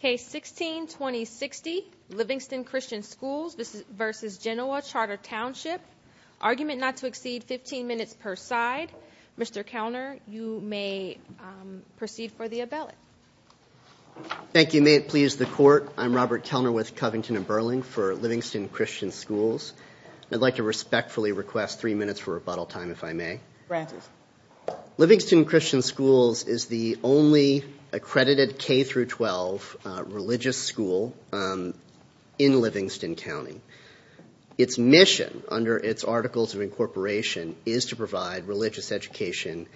Case 16-2060 Livingston Christian Schools v. Genoa Charter Township Argument not to exceed 15 minutes per side. Mr. Kelner you may proceed for the abelic. Thank you may it please the court I'm Robert Kelner with Covington and Burling for Livingston Christian Schools. I'd like to respectfully request three minutes for rebuttal time if I may. Livingston Christian Schools is the only accredited K through 12 religious school in Livingston County. Its mission under its Articles of Incorporation is to provide religious education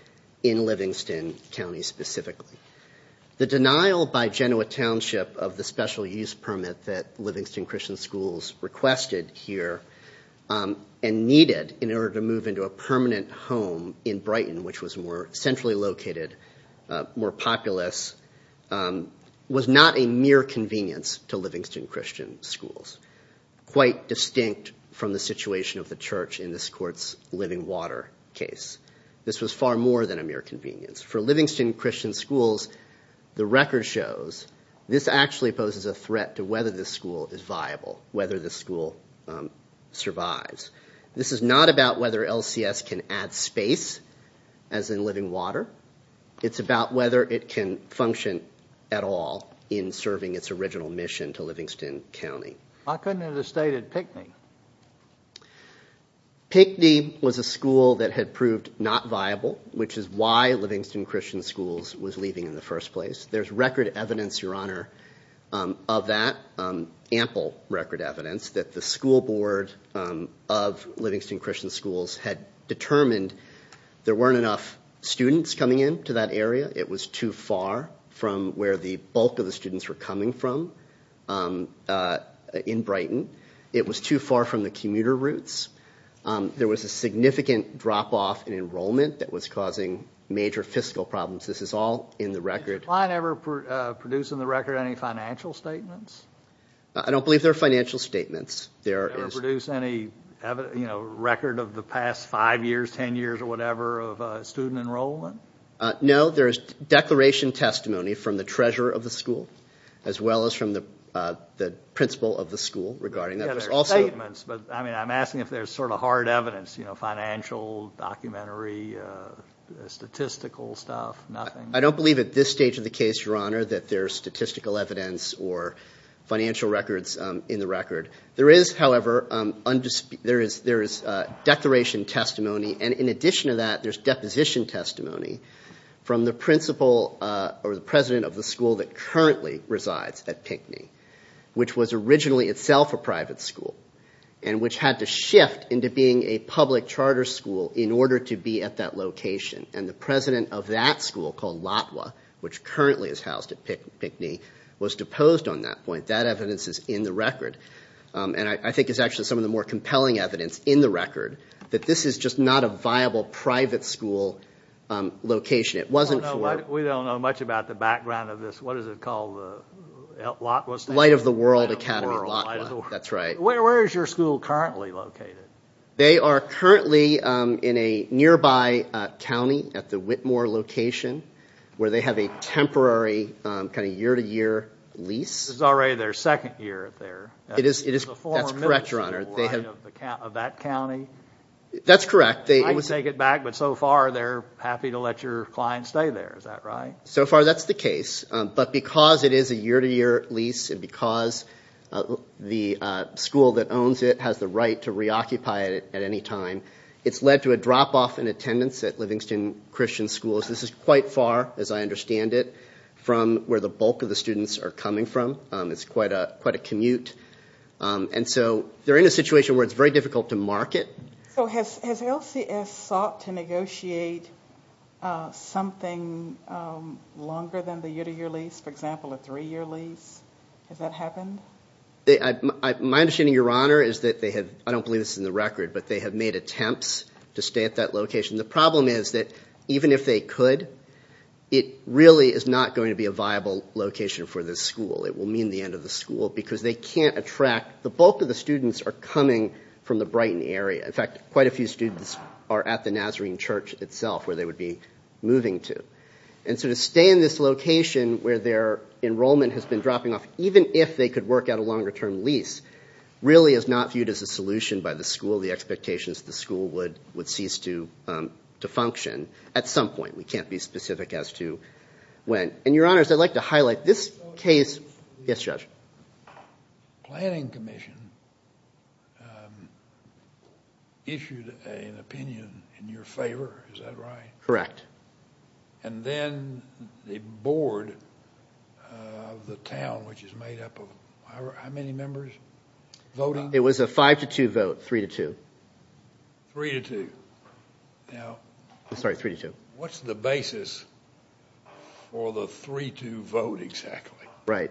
in Livingston County specifically. The denial by Genoa Township of the special use permit that Livingston Christian Schools requested here and needed in order to move into a permanent home in Brighton which was more centrally located, more populous, was not a mere convenience to Livingston Christian Schools. Quite distinct from the situation of the church in this court's living water case. This was far more than a mere convenience. For Livingston Christian Schools the record shows this actually poses a threat to whether this school is viable, whether the school survives. This is not about whether LCS can add space as in living water. It's about whether it can function at all in serving its original mission to Livingston County. I couldn't have stated Pickney. Pickney was a school that had proved not viable which is why Livingston Christian Schools was leaving in the first place. There's record evidence your honor of that, ample record evidence that the school board of Livingston Christian Schools had determined there weren't enough students coming in to that area. It was too far from where the bulk of the students were coming from in Brighton. It was too far from the commuter routes. There was a significant drop-off in enrollment that was causing major fiscal problems. This is all in the record. Did the client ever produce in the record any financial statements? I don't believe there are financial statements. Did they ever produce any record of the past five years, ten years or whatever of student enrollment? No, there's declaration testimony from the treasurer of the school as well as from the principal of the school regarding that. There are statements but I mean I'm asking if there's sort of hard evidence you know financial, documentary, statistical stuff. I don't believe at this stage of the in the record. There is however, there is declaration testimony and in addition to that there's deposition testimony from the principal or the president of the school that currently resides at Pinckney which was originally itself a private school and which had to shift into being a public charter school in order to be at that location and the president of that school called Latwa which currently is housed at Pinckney was deposed on that point. That evidence is in the record and I think it's actually some of the more compelling evidence in the record that this is just not a viable private school location. It wasn't We don't know much about the background of this, what is it called, Latwa? Light of the World Academy. That's right. Where is your school currently located? They are currently in a nearby county at the Whitmore location where they have a second year there. That's correct, your honor. Of that county? That's correct. They take it back but so far they're happy to let your client stay there, is that right? So far that's the case but because it is a year-to-year lease and because the school that owns it has the right to reoccupy it at any time, it's led to a drop-off in attendance at Livingston Christian Schools. This is quite far as I understand it from where the bulk of the commute and so they're in a situation where it's very difficult to market. Has LCS sought to negotiate something longer than the year-to-year lease, for example a three-year lease? Has that happened? My understanding, your honor, is that they have, I don't believe this is in the record, but they have made attempts to stay at that location. The problem is that even if they could, it really is not going to be a viable location for this school. It will mean the end of the school because they can't attract, the bulk of the students are coming from the Brighton area. In fact, quite a few students are at the Nazarene Church itself where they would be moving to and so to stay in this location where their enrollment has been dropping off, even if they could work out a longer-term lease, really is not viewed as a solution by the school. The expectations the school would cease to function at some point. We can't be specific as to when. And your honors, I'd like to highlight this case. Yes, Judge. Planning Commission issued an opinion in your favor, is that right? Correct. And then the board of the town, which is made up of how many members voting? It was a 5 to 2 vote, 3 to 2. 3 to 2. Now, what's the basis for the 3 to vote exactly? Right.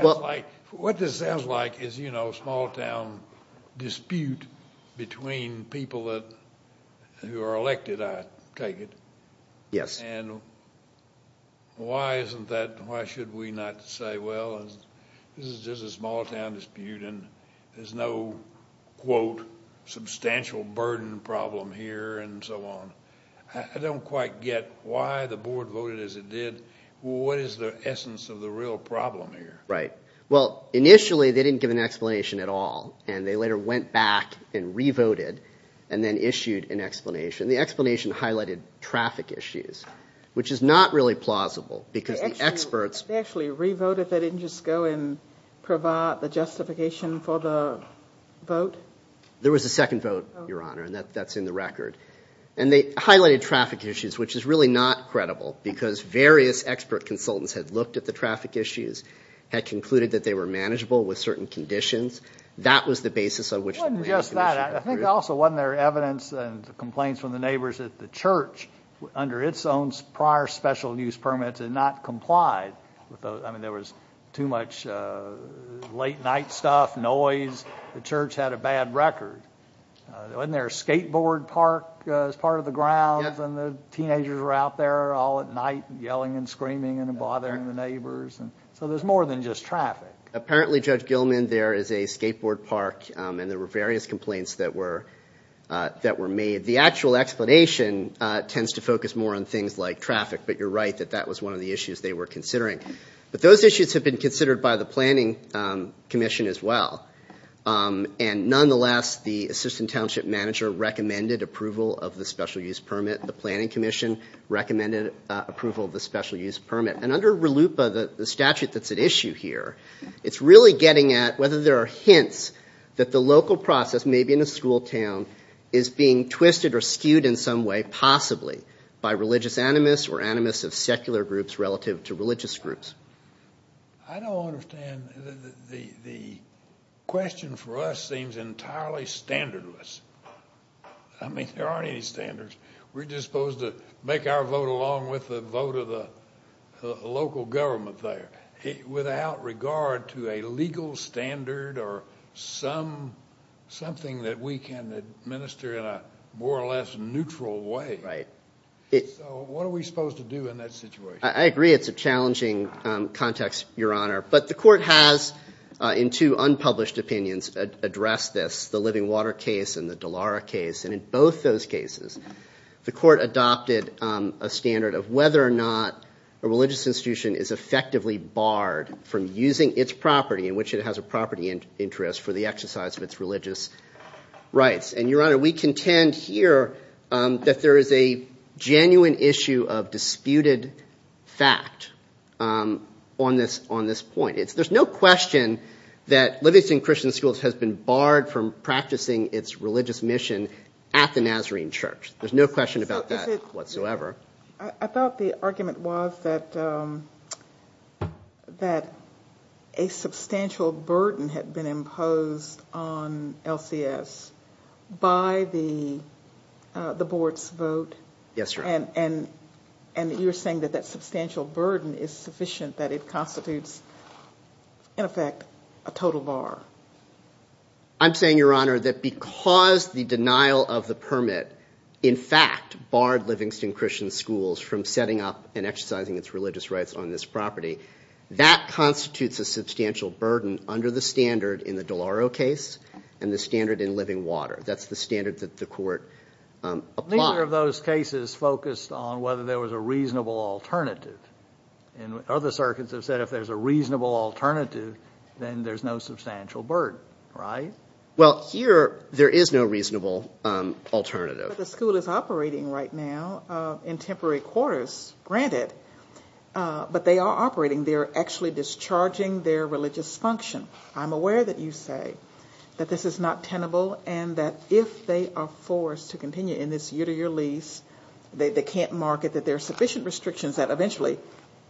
Well, what this sounds like is, you know, a small-town dispute between people that who are elected, I take it. Yes. And why isn't that, why should we not say, well, this is just a small-town dispute and there's no quote substantial burden problem here and so on. I don't quite get why the board voted as it did. What is the essence of the real problem here? Right. Well, initially they didn't give an explanation at all and they later went back and re-voted and then issued an explanation. The explanation highlighted traffic issues, which is not really plausible because the experts... They actually re-voted. They didn't just go and provide the justification for the vote? There was a second vote, Your Honor, and that's in the record. And they highlighted traffic issues, which is really not credible because various expert consultants had looked at the traffic issues, had concluded that they were manageable with certain conditions. That was the basis of which... It wasn't just that. I think also wasn't there evidence and complaints from the neighbors that the church, under its own prior special use permits, had not complied. I mean, there was too much late night stuff, noise. The church had a bad record. Wasn't there a skateboard park as part of the grounds and the teenagers were out there all at night yelling and screaming and bothering the neighbors? So there's more than just traffic. Apparently, Judge Gilman, there is a skateboard park and there were various complaints that were made. The actual explanation tends to focus more on things like traffic, but you're right that that was one of the issues they were considering. But those issues have been considered by the Planning Commission as well. And nonetheless, the Assistant Township Manager recommended approval of the special use permit. The Planning Commission recommended approval of the special use permit. And under RLUIPA, the statute that's at issue here, it's really getting at whether there are hints that the local process, maybe in a school town, is being twisted or skewed in some way, possibly, by religious animus or animus of secular groups relative to religious groups. I don't understand. The question for us seems entirely standardless. I mean, there aren't any standards. We're just supposed to make our vote along with the vote of the local government there, without regard to a legal standard or something that we can administer in a more or less neutral way. So what are we supposed to do in that situation? I agree it's a challenging context, Your Honor, but the court has, in two unpublished opinions, addressed this, the Living Water case and the Dallara case. And in both those cases, the court adopted a standard of whether or not a religious institution is effectively barred from using its property in which it has a property interest for the exercise of its religious rights. And, Your Honor, we believe that there is a genuine issue of disputed fact on this point. There's no question that Livingston Christian Schools has been barred from practicing its religious mission at the Nazarene Church. There's no question about that whatsoever. I thought the argument was that a substantial burden had been imposed on LCS by the board's vote. Yes, Your Honor. And you're saying that that substantial burden is sufficient, that it constitutes, in effect, a total bar. I'm saying, Your Honor, that because the denial of the permit in fact barred Livingston Christian Schools from setting up and exercising its religious rights on this property, that constitutes a substantial burden under the standard in the Dallara case and the standard in Living Water. That's the standard that the court applied. Neither of those cases focused on whether there was a reasonable alternative. And other circuits have said if there's a reasonable alternative, then there's no substantial burden, right? Well, here there is no reasonable alternative. But the school is operating right now in temporary quarters, granted. But they are operating. They're actually discharging their religious function. I'm aware that you say that this is not tenable and that if they are forced to continue in this year-to-year lease, they can't market that there are sufficient restrictions that eventually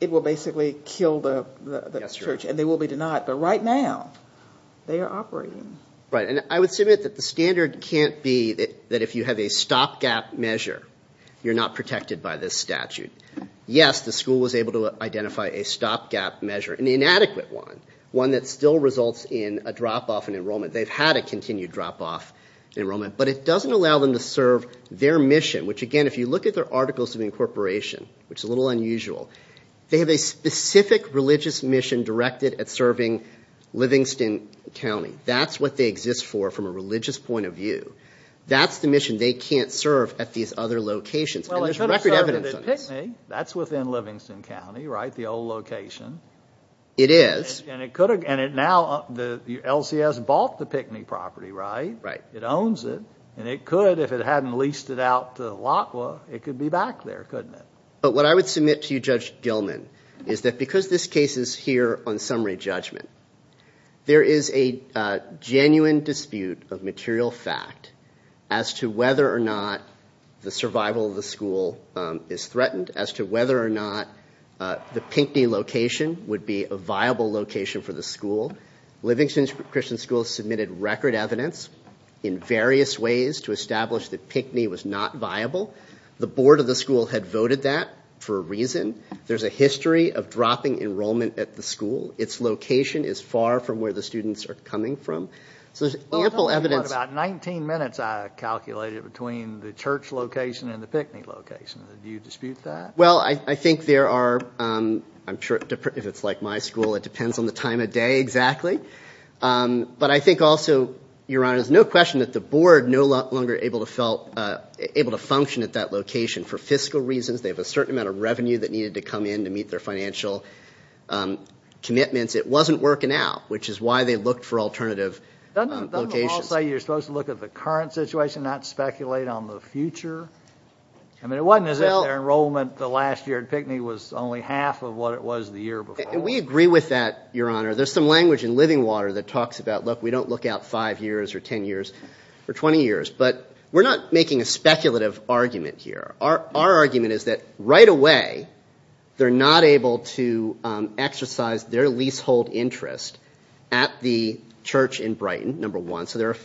it will basically kill the church and they will be denied. But right now, they are operating. Right, and I would submit that the standard can't be that if you have a stopgap measure, you're not protected by this statute. Yes, the school was able to identify a stopgap measure, an inadequate one, one that still results in a drop-off in enrollment. They've had a continued drop-off enrollment, but it doesn't allow them to serve their mission, which again, if you look at their articles of incorporation, which is a little unusual, they have a specific religious mission directed at serving Livingston County. That's what they exist for from a record evidence. That's within Livingston County, right, the old location. It is. And it could have, and it now, the LCS bought the Pickney property, right? Right. It owns it, and it could, if it hadn't leased it out to the LACWA, it could be back there, couldn't it? But what I would submit to you, Judge Gilman, is that because this case is here on summary judgment, there is a genuine dispute of survival of the school is threatened as to whether or not the Pickney location would be a viable location for the school. Livingston Christian School submitted record evidence in various ways to establish that Pickney was not viable. The board of the school had voted that for a reason. There's a history of dropping enrollment at the school. Its location is far from where the students are coming from. So there's ample evidence. About 19 minutes I calculated between the church location and the Pickney location. Do you dispute that? Well, I think there are, I'm sure if it's like my school, it depends on the time of day, exactly. But I think also, Your Honor, there's no question that the board no longer able to function at that location for fiscal reasons. They have a certain amount of revenue that needed to come in to meet their financial commitments. It wasn't working out, which is why they looked for alternative locations. Doesn't the law say you're supposed to look at the current situation, not speculate on the future? I mean, it wasn't as if their enrollment the last year at Pickney was only half of what it was the year before. And we agree with that, Your Honor. There's some language in Living Water that talks about, look, we don't look out five years or ten years or twenty years. But we're not making a speculative argument here. Our argument is that right away they're not able to exercise their leasehold interest at the church in Brighton, number one. So they're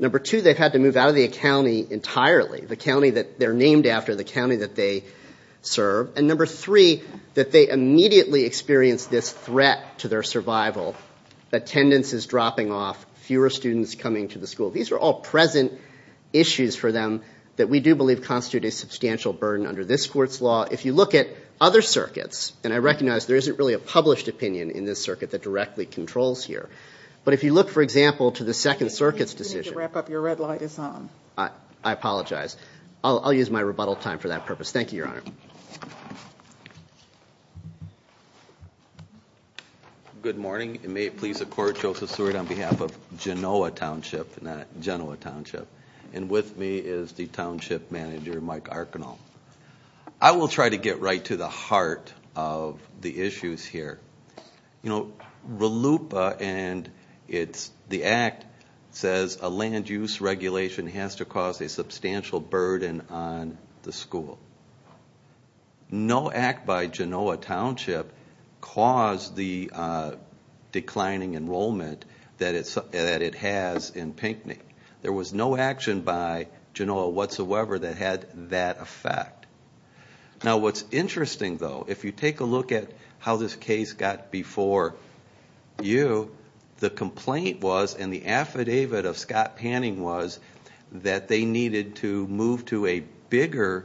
Number two, they've had to move out of the county entirely, the county that they're named after, the county that they serve. And number three, that they immediately experienced this threat to their survival. Attendance is dropping off, fewer students coming to the school. These are all present issues for them that we do believe constitute a substantial burden under this court's law. If you look at other circuits, and I recognize there isn't really a published opinion in this circuit that directly controls here, but if you look, for example, to the Second Circuit's decision. I apologize. I'll use my rebuttal time for that purpose. Thank you, Your Honor. Good morning. May it please the Court, Joseph Seward on behalf of Genoa Township, not Genoa Township. And with me is the Township Manager, Mike Arcanal. I will try to get right to the heart of the issues here. You know, RLUIPA and the Act says a land use regulation has to cause a substantial burden on the school. No Act by Genoa Township caused the declining enrollment that it has in Pinckney. There was no action by Genoa whatsoever that had that effect. Now what's interesting, though, if you take a look at how this case got before you, the complaint was, and the affidavit of Scott Panning was, that they needed to move to a bigger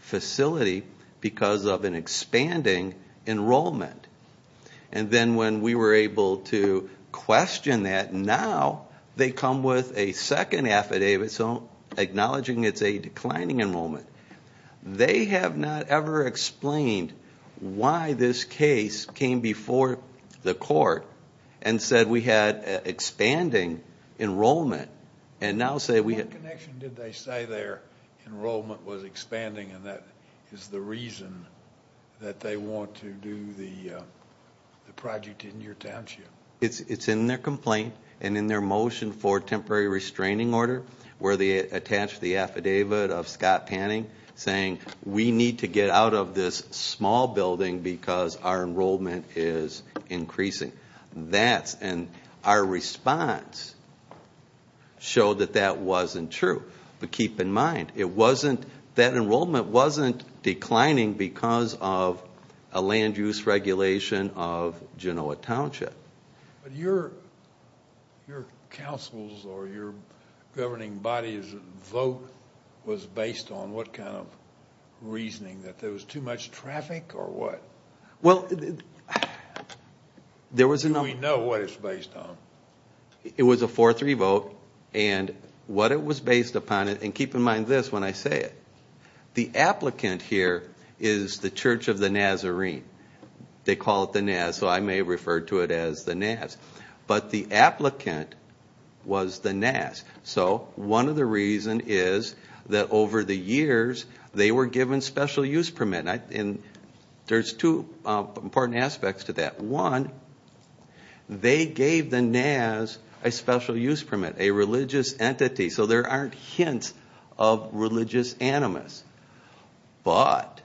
facility because of an expanding enrollment. And then when we were able to question that, now they come with a second affidavit acknowledging it's a declining enrollment. They have not ever explained why this case came before the court and said we had expanding enrollment. And now say we had... What connection did they say their enrollment was expanding and that is the reason that they want to do the project in your township? It's in their complaint and in their motion for temporary restraining order where they attach the affidavit of Scott Panning saying we need to get out of this small building because our enrollment is increasing. And our response showed that that wasn't true. But keep in mind, it wasn't... That enrollment wasn't declining because of a land use regulation of Genoa Township. But your counsel's or your governing body's vote was based on what kind of vote? Well, there was a number... Do we know what it's based on? It was a 4-3 vote and what it was based upon, and keep in mind this when I say it, the applicant here is the Church of the Nazarene. They call it the Naz, so I may refer to it as the Naz. But the applicant was the Naz. So one of the reasons is that over the years they were given special use permit, and there's two important aspects to that. One, they gave the Naz a special use permit, a religious entity, so there aren't hints of religious animus. But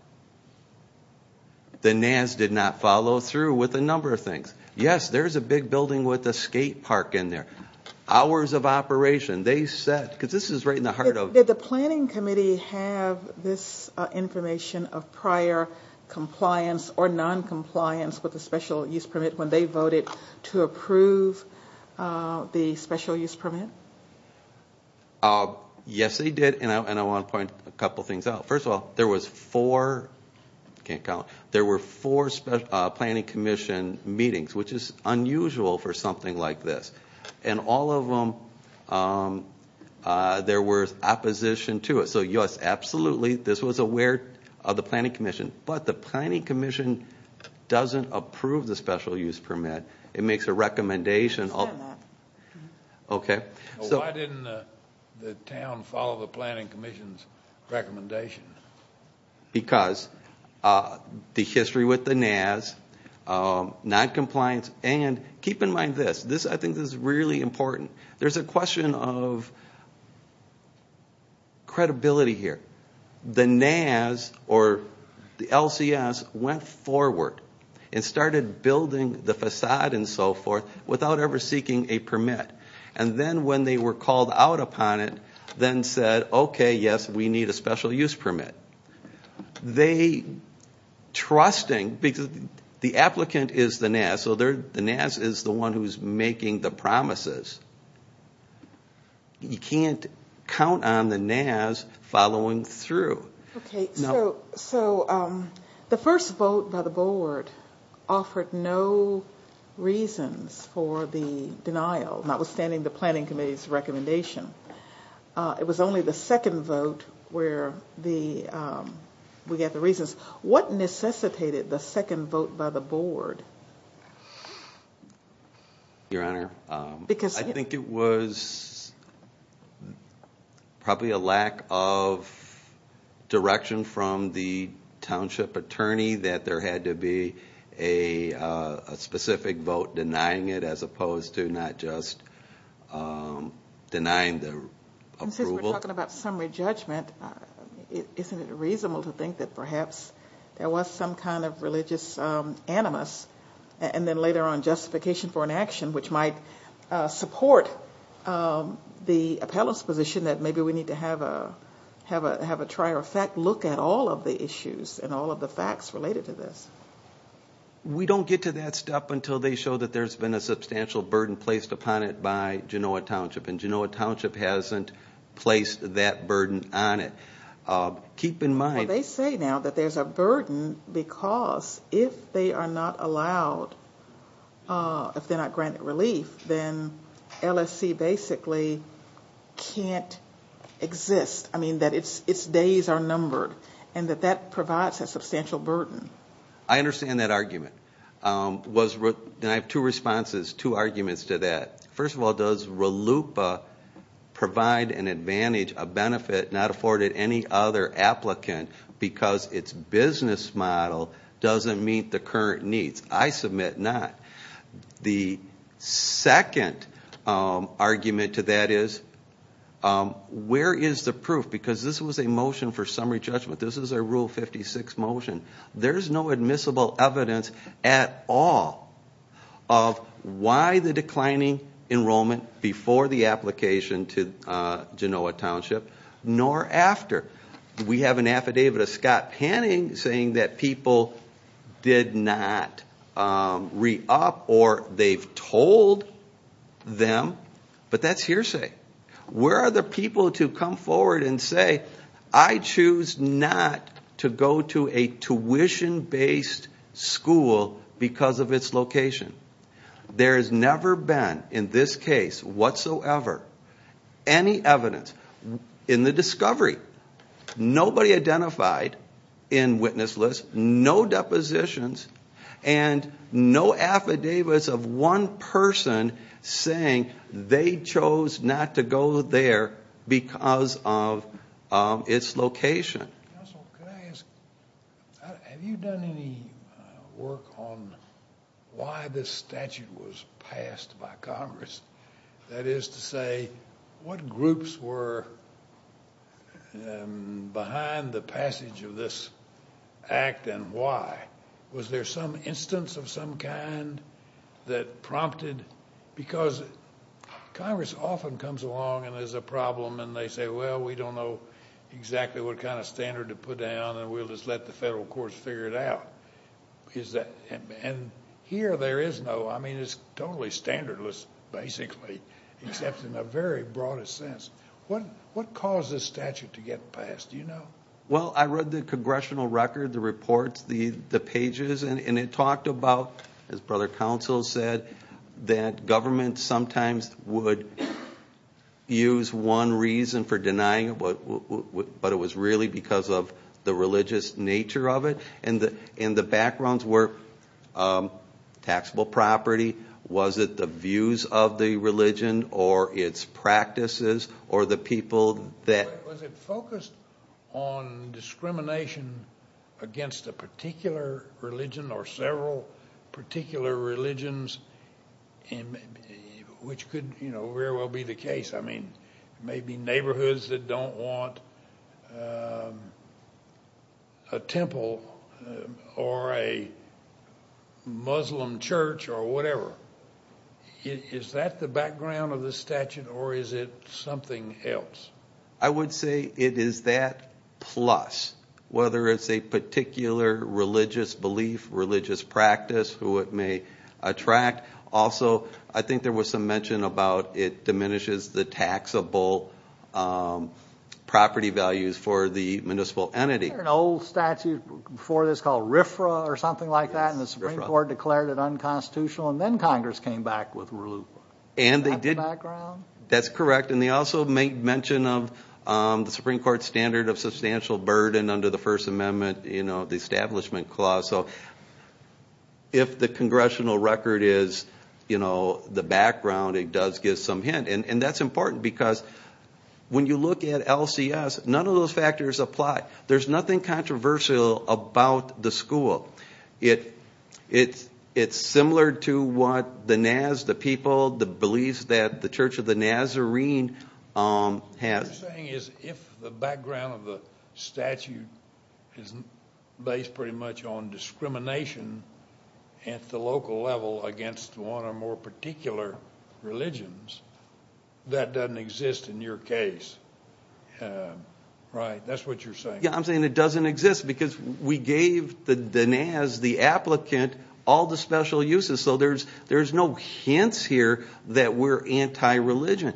the Naz did not follow through with a number of things. Yes, there's a big building with a skate park in there. Hours of operation. They said, because this is right in the heart of... Did the church give this information of prior compliance or non-compliance with the special use permit when they voted to approve the special use permit? Yes, they did, and I want to point a couple things out. First of all, there was four, can't count, there were four Planning Commission meetings, which is unusual for something like this. And all of them, there was opposition to it. So yes, absolutely, this was aware of the Planning Commission, but the Planning Commission doesn't approve the special use permit. It makes a recommendation... I stand by that. Okay. So why didn't the town follow the Planning Commission's recommendation? Because the history with the Naz, non-compliance, and keep in mind this, I think this is really important, there's a question of credibility here. The Naz, or the LCS, went forward and started building the facade and so forth without ever seeking a permit. And then when they were called out upon it, then said, okay, yes, we need a special use permit. They, trusting, because the applicant is the Naz, so the Naz is the one who's making the promises. You can't count on the Naz following through. Okay, so the first vote by the board offered no reasons for the denial, not withstanding the Planning Committee's recommendation. It was only the second vote where we got the reasons. What necessitated the second vote by the board? Your Honor, I think it was probably a lack of direction from the township attorney that there had to be a specific vote denying it as opposed to not just denying the approval. And since we're talking about summary judgment, isn't it reasonable to think that perhaps there was some kind of religious animus and then later on justification for an action which might support the appellant's position that maybe we need to have a try or effect look at all of the issues and all of the facts related to this? We don't get to that step until they show that there's been a substantial burden placed upon it by Genoa Township. And Genoa Township hasn't placed that burden on it. Keep in mind- Well, they say now that there's a burden because if they are not allowed, if they're not granted relief, then LSC basically can't exist. I mean, that its days are numbered and that that provides a substantial burden. I understand that argument. I have two responses, two arguments to that. First of all, does RLUIPA provide an advantage, a benefit not afforded any other applicant because its business model doesn't meet the current needs? I submit not. The second argument to that is, where is the proof? Because this was a motion for summary judgment. This is a Rule 56 motion. There's no admissible evidence at all of why the declining enrollment before the application to Genoa Township nor after. We have an affidavit of Scott Panning saying that people did not re-up or they've told them, but that's hearsay. Where are the people to come forward and say, I choose not to go to a tuition-based school because of its location? There has never been, in this case whatsoever, any evidence in the discovery. Nobody identified in witness lists, no depositions, and no affidavits of one person saying they chose not to go there because of its location. Counsel, could I ask, have you done any work on why this statute was passed by Congress? That is to say, what groups were behind the passage of this act and why? Was there some instance of some kind that prompted? Because Congress often comes along and there's a problem and they say, well, we don't know exactly what kind of standard to put down and we'll just let the federal courts figure it out. Here, there is no, I mean, it's totally standardless, basically, except in a very broad sense. What caused this statute to get passed? Do you know? Well, I read the congressional record, the reports, the pages, and it talked about, as Brother Counsel said, that government sometimes would use one reason for denying it, but it was really because of the religious nature of it. And the backgrounds were taxable property, was it the views of the religion, or its practices, or the people that... Was it focused on discrimination against a particular religion or several particular religions, which could very well be the case. I mean, maybe neighborhoods that don't want a temple or a Muslim church or whatever. Is that the background of the statute or is it something else? I would say it is that plus, whether it's a particular religious belief, religious practice, who it may attract. Also, I think there was some mention about it diminishes the taxable property values for the municipal entity. There's an old statute before this called RFRA or something like that and the Supreme Court declared it unconstitutional and then Congress came back with rule. Is that the background? That's correct. And they also made mention of the Supreme Court standard of substantial burden under the First Amendment, you know, the Establishment Clause. So if the congressional record is, you know, the background, it does give some hint. And that's important because when you look at LCS, none of those factors apply. There's nothing controversial about the school. It's similar to what the Naz, the people, the beliefs that the Church of the Nazarene has. What you're saying is if the background of the statute is based pretty much on discrimination at the local level against one or more particular religions, that doesn't exist in your case, right? That's what you're saying. Yeah, I'm saying it doesn't exist because we gave the Naz, the applicant, all the special uses. So there's no hints here that we're anti-religion.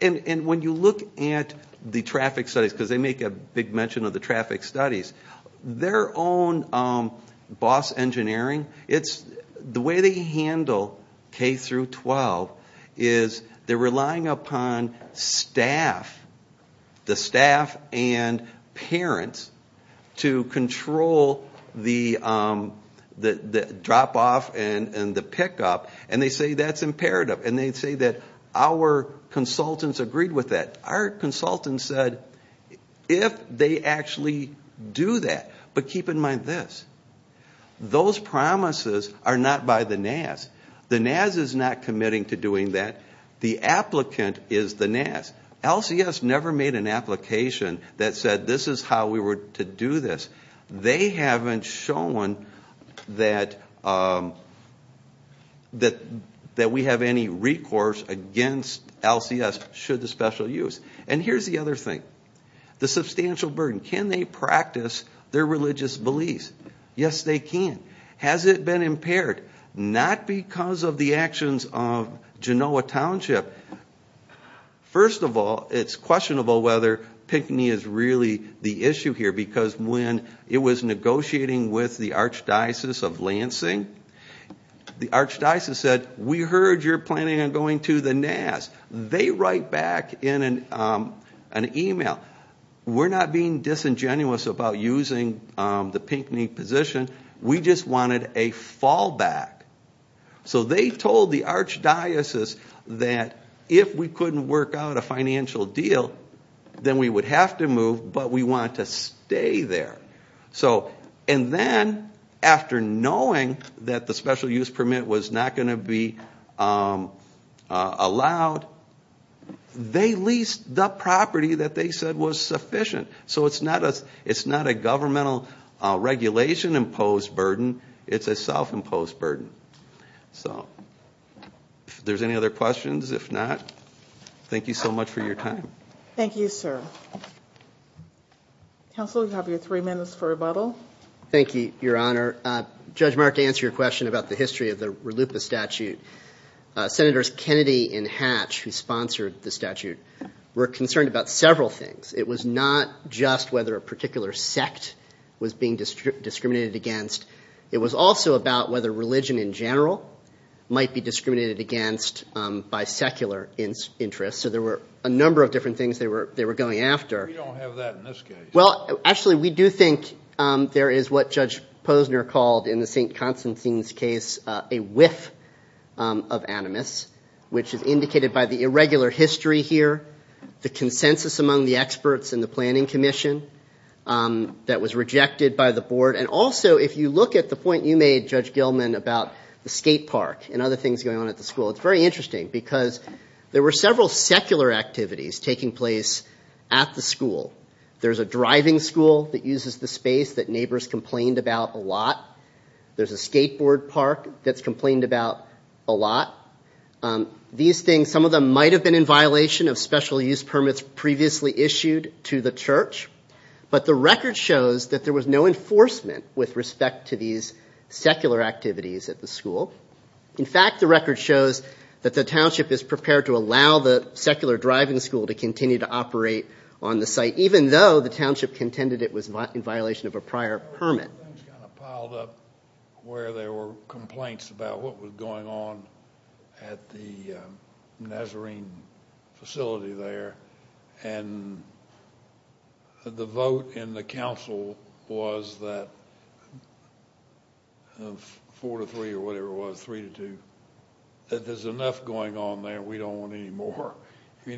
And when you look at the traffic studies, because they make a big mention of the traffic studies, their own boss engineering, the way they handle K-12 is they're relying upon staff, the pick-up, and they say that's imperative. And they say that our consultants agreed with that. Our consultants said if they actually do that. But keep in mind this, those promises are not by the Naz. The Naz is not committing to doing that. The applicant is the Naz. LCS never made an application that said this is how we were to do this. They haven't shown that we have any recourse against LCS should the special use. And here's the other thing. The substantial burden. Can they practice their religious beliefs? Yes, they can. Has it been impaired? Not because of the actions of Genoa Township. First of all, it's questionable whether it was negotiating with the Archdiocese of Lansing. The Archdiocese said we heard you're planning on going to the Naz. They write back in an email, we're not being disingenuous about using the Pinckney position. We just wanted a fallback. So they told the Archdiocese that if we couldn't work out a financial deal, then we would have to move, but we want to stay there. And then after knowing that the special use permit was not going to be allowed, they leased the property that they said was sufficient. So it's not a governmental regulation imposed burden. It's a self-imposed burden. So if there's any other questions, if not, thank you so much. Counsel, you have your three minutes for rebuttal. Thank you, Your Honor. Judge Mark, to answer your question about the history of the RLUIPA statute, Senators Kennedy and Hatch, who sponsored the statute, were concerned about several things. It was not just whether a particular sect was being discriminated against. It was also about whether religion in general might be discriminated against by secular interests. So there were a number of different things they were going after. We don't have that in this case. Well, actually, we do think there is what Judge Posner called in the St. Constantine's case a whiff of animus, which is indicated by the irregular history here, the consensus among the experts in the planning commission that was rejected by the board. And also, if you look at the point you made, Judge Gilman, about the skate park and other things going on at the school, it's very interesting because there were several secular activities taking place at the school. There's a driving school that uses the space that neighbors complained about a lot. There's a skateboard park that's complained about a lot. These things, some of them might have been in violation of special use permits previously issued to the church. But the record shows that there was no enforcement with respect to these secular activities at the school. In fact, the record shows that the township is prepared to allow the secular driving school to continue to operate on the site, even though the township contended it was in violation of a prior permit. There were things kind of piled up where there were complaints about what was going on at the Nazarene facility there. And the vote in the council was that four to three or whatever it was, three to two, that there's enough going on there. We don't want any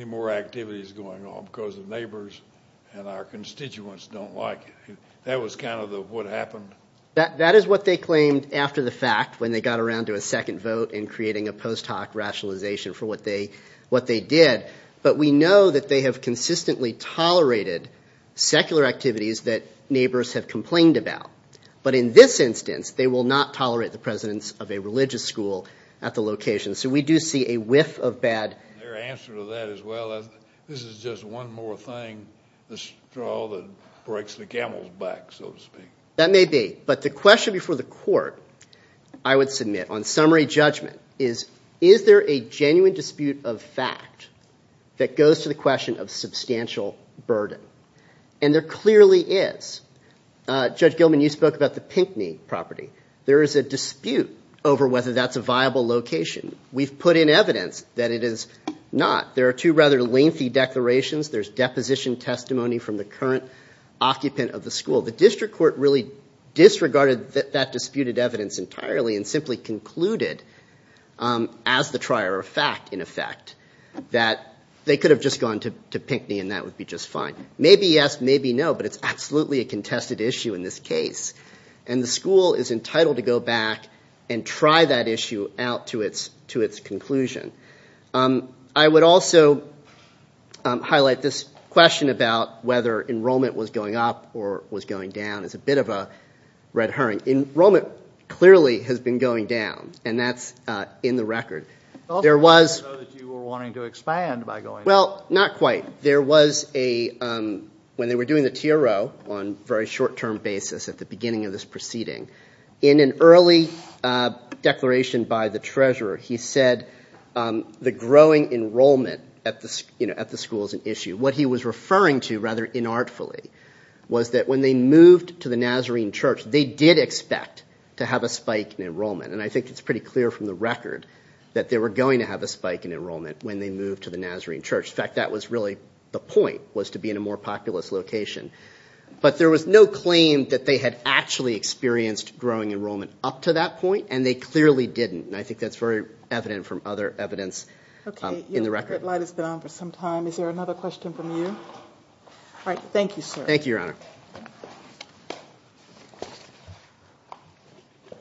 more activities going on because the neighbors and our constituents don't like it. That was kind of what happened. That is what they claimed after the fact when they got around to a second vote in creating a post hoc rationalization for what they did. But we know that they have consistently tolerated secular activities that neighbors have complained about. But in this instance, they will not allow the religious school at the location. So we do see a whiff of bad. Their answer to that is, well, this is just one more thing, the straw that breaks the camel's back, so to speak. That may be. But the question before the court I would submit on summary judgment is, is there a genuine dispute of fact that goes to the question of substantial burden? And there clearly is. Judge Gilman, you spoke about the Pinckney property. There is a dispute over whether that's a viable location. We've put in evidence that it is not. There are two rather lengthy declarations. There's deposition testimony from the current occupant of the school. The district court really disregarded that disputed evidence entirely and simply concluded as the trier of fact, in effect, that they could have just gone to Pinckney and that would be just fine. Maybe yes, maybe no, but it's absolutely a contested issue in this case. And the school is entitled to go back and try that issue out to its conclusion. I would also highlight this question about whether enrollment was going up or was going down as a bit of a red herring. Enrollment clearly has been going down, and that's in the record. There was... I thought you were wanting to expand by going up. Well, not quite. There was a... When they were doing the TRO on a very short-term basis at the beginning of this proceeding, in an early declaration by the treasurer, he said the growing enrollment at the school is an issue. What he was referring to, rather inartfully, was that when they moved to the Nazarene Church, they did expect to have a spike in enrollment. And I think it's pretty clear from the record that they were going to have a spike in enrollment when they moved to the Nazarene Church. In fact, that was really the point, was to be in a more populous location. But there was no claim that they had actually experienced growing enrollment up to that point, and they clearly didn't. And I think that's very evident from other evidence in the record. Okay. Your light has been on for some time. Is there another question from you? All right. Thank you, sir. Thank you, Your Honor.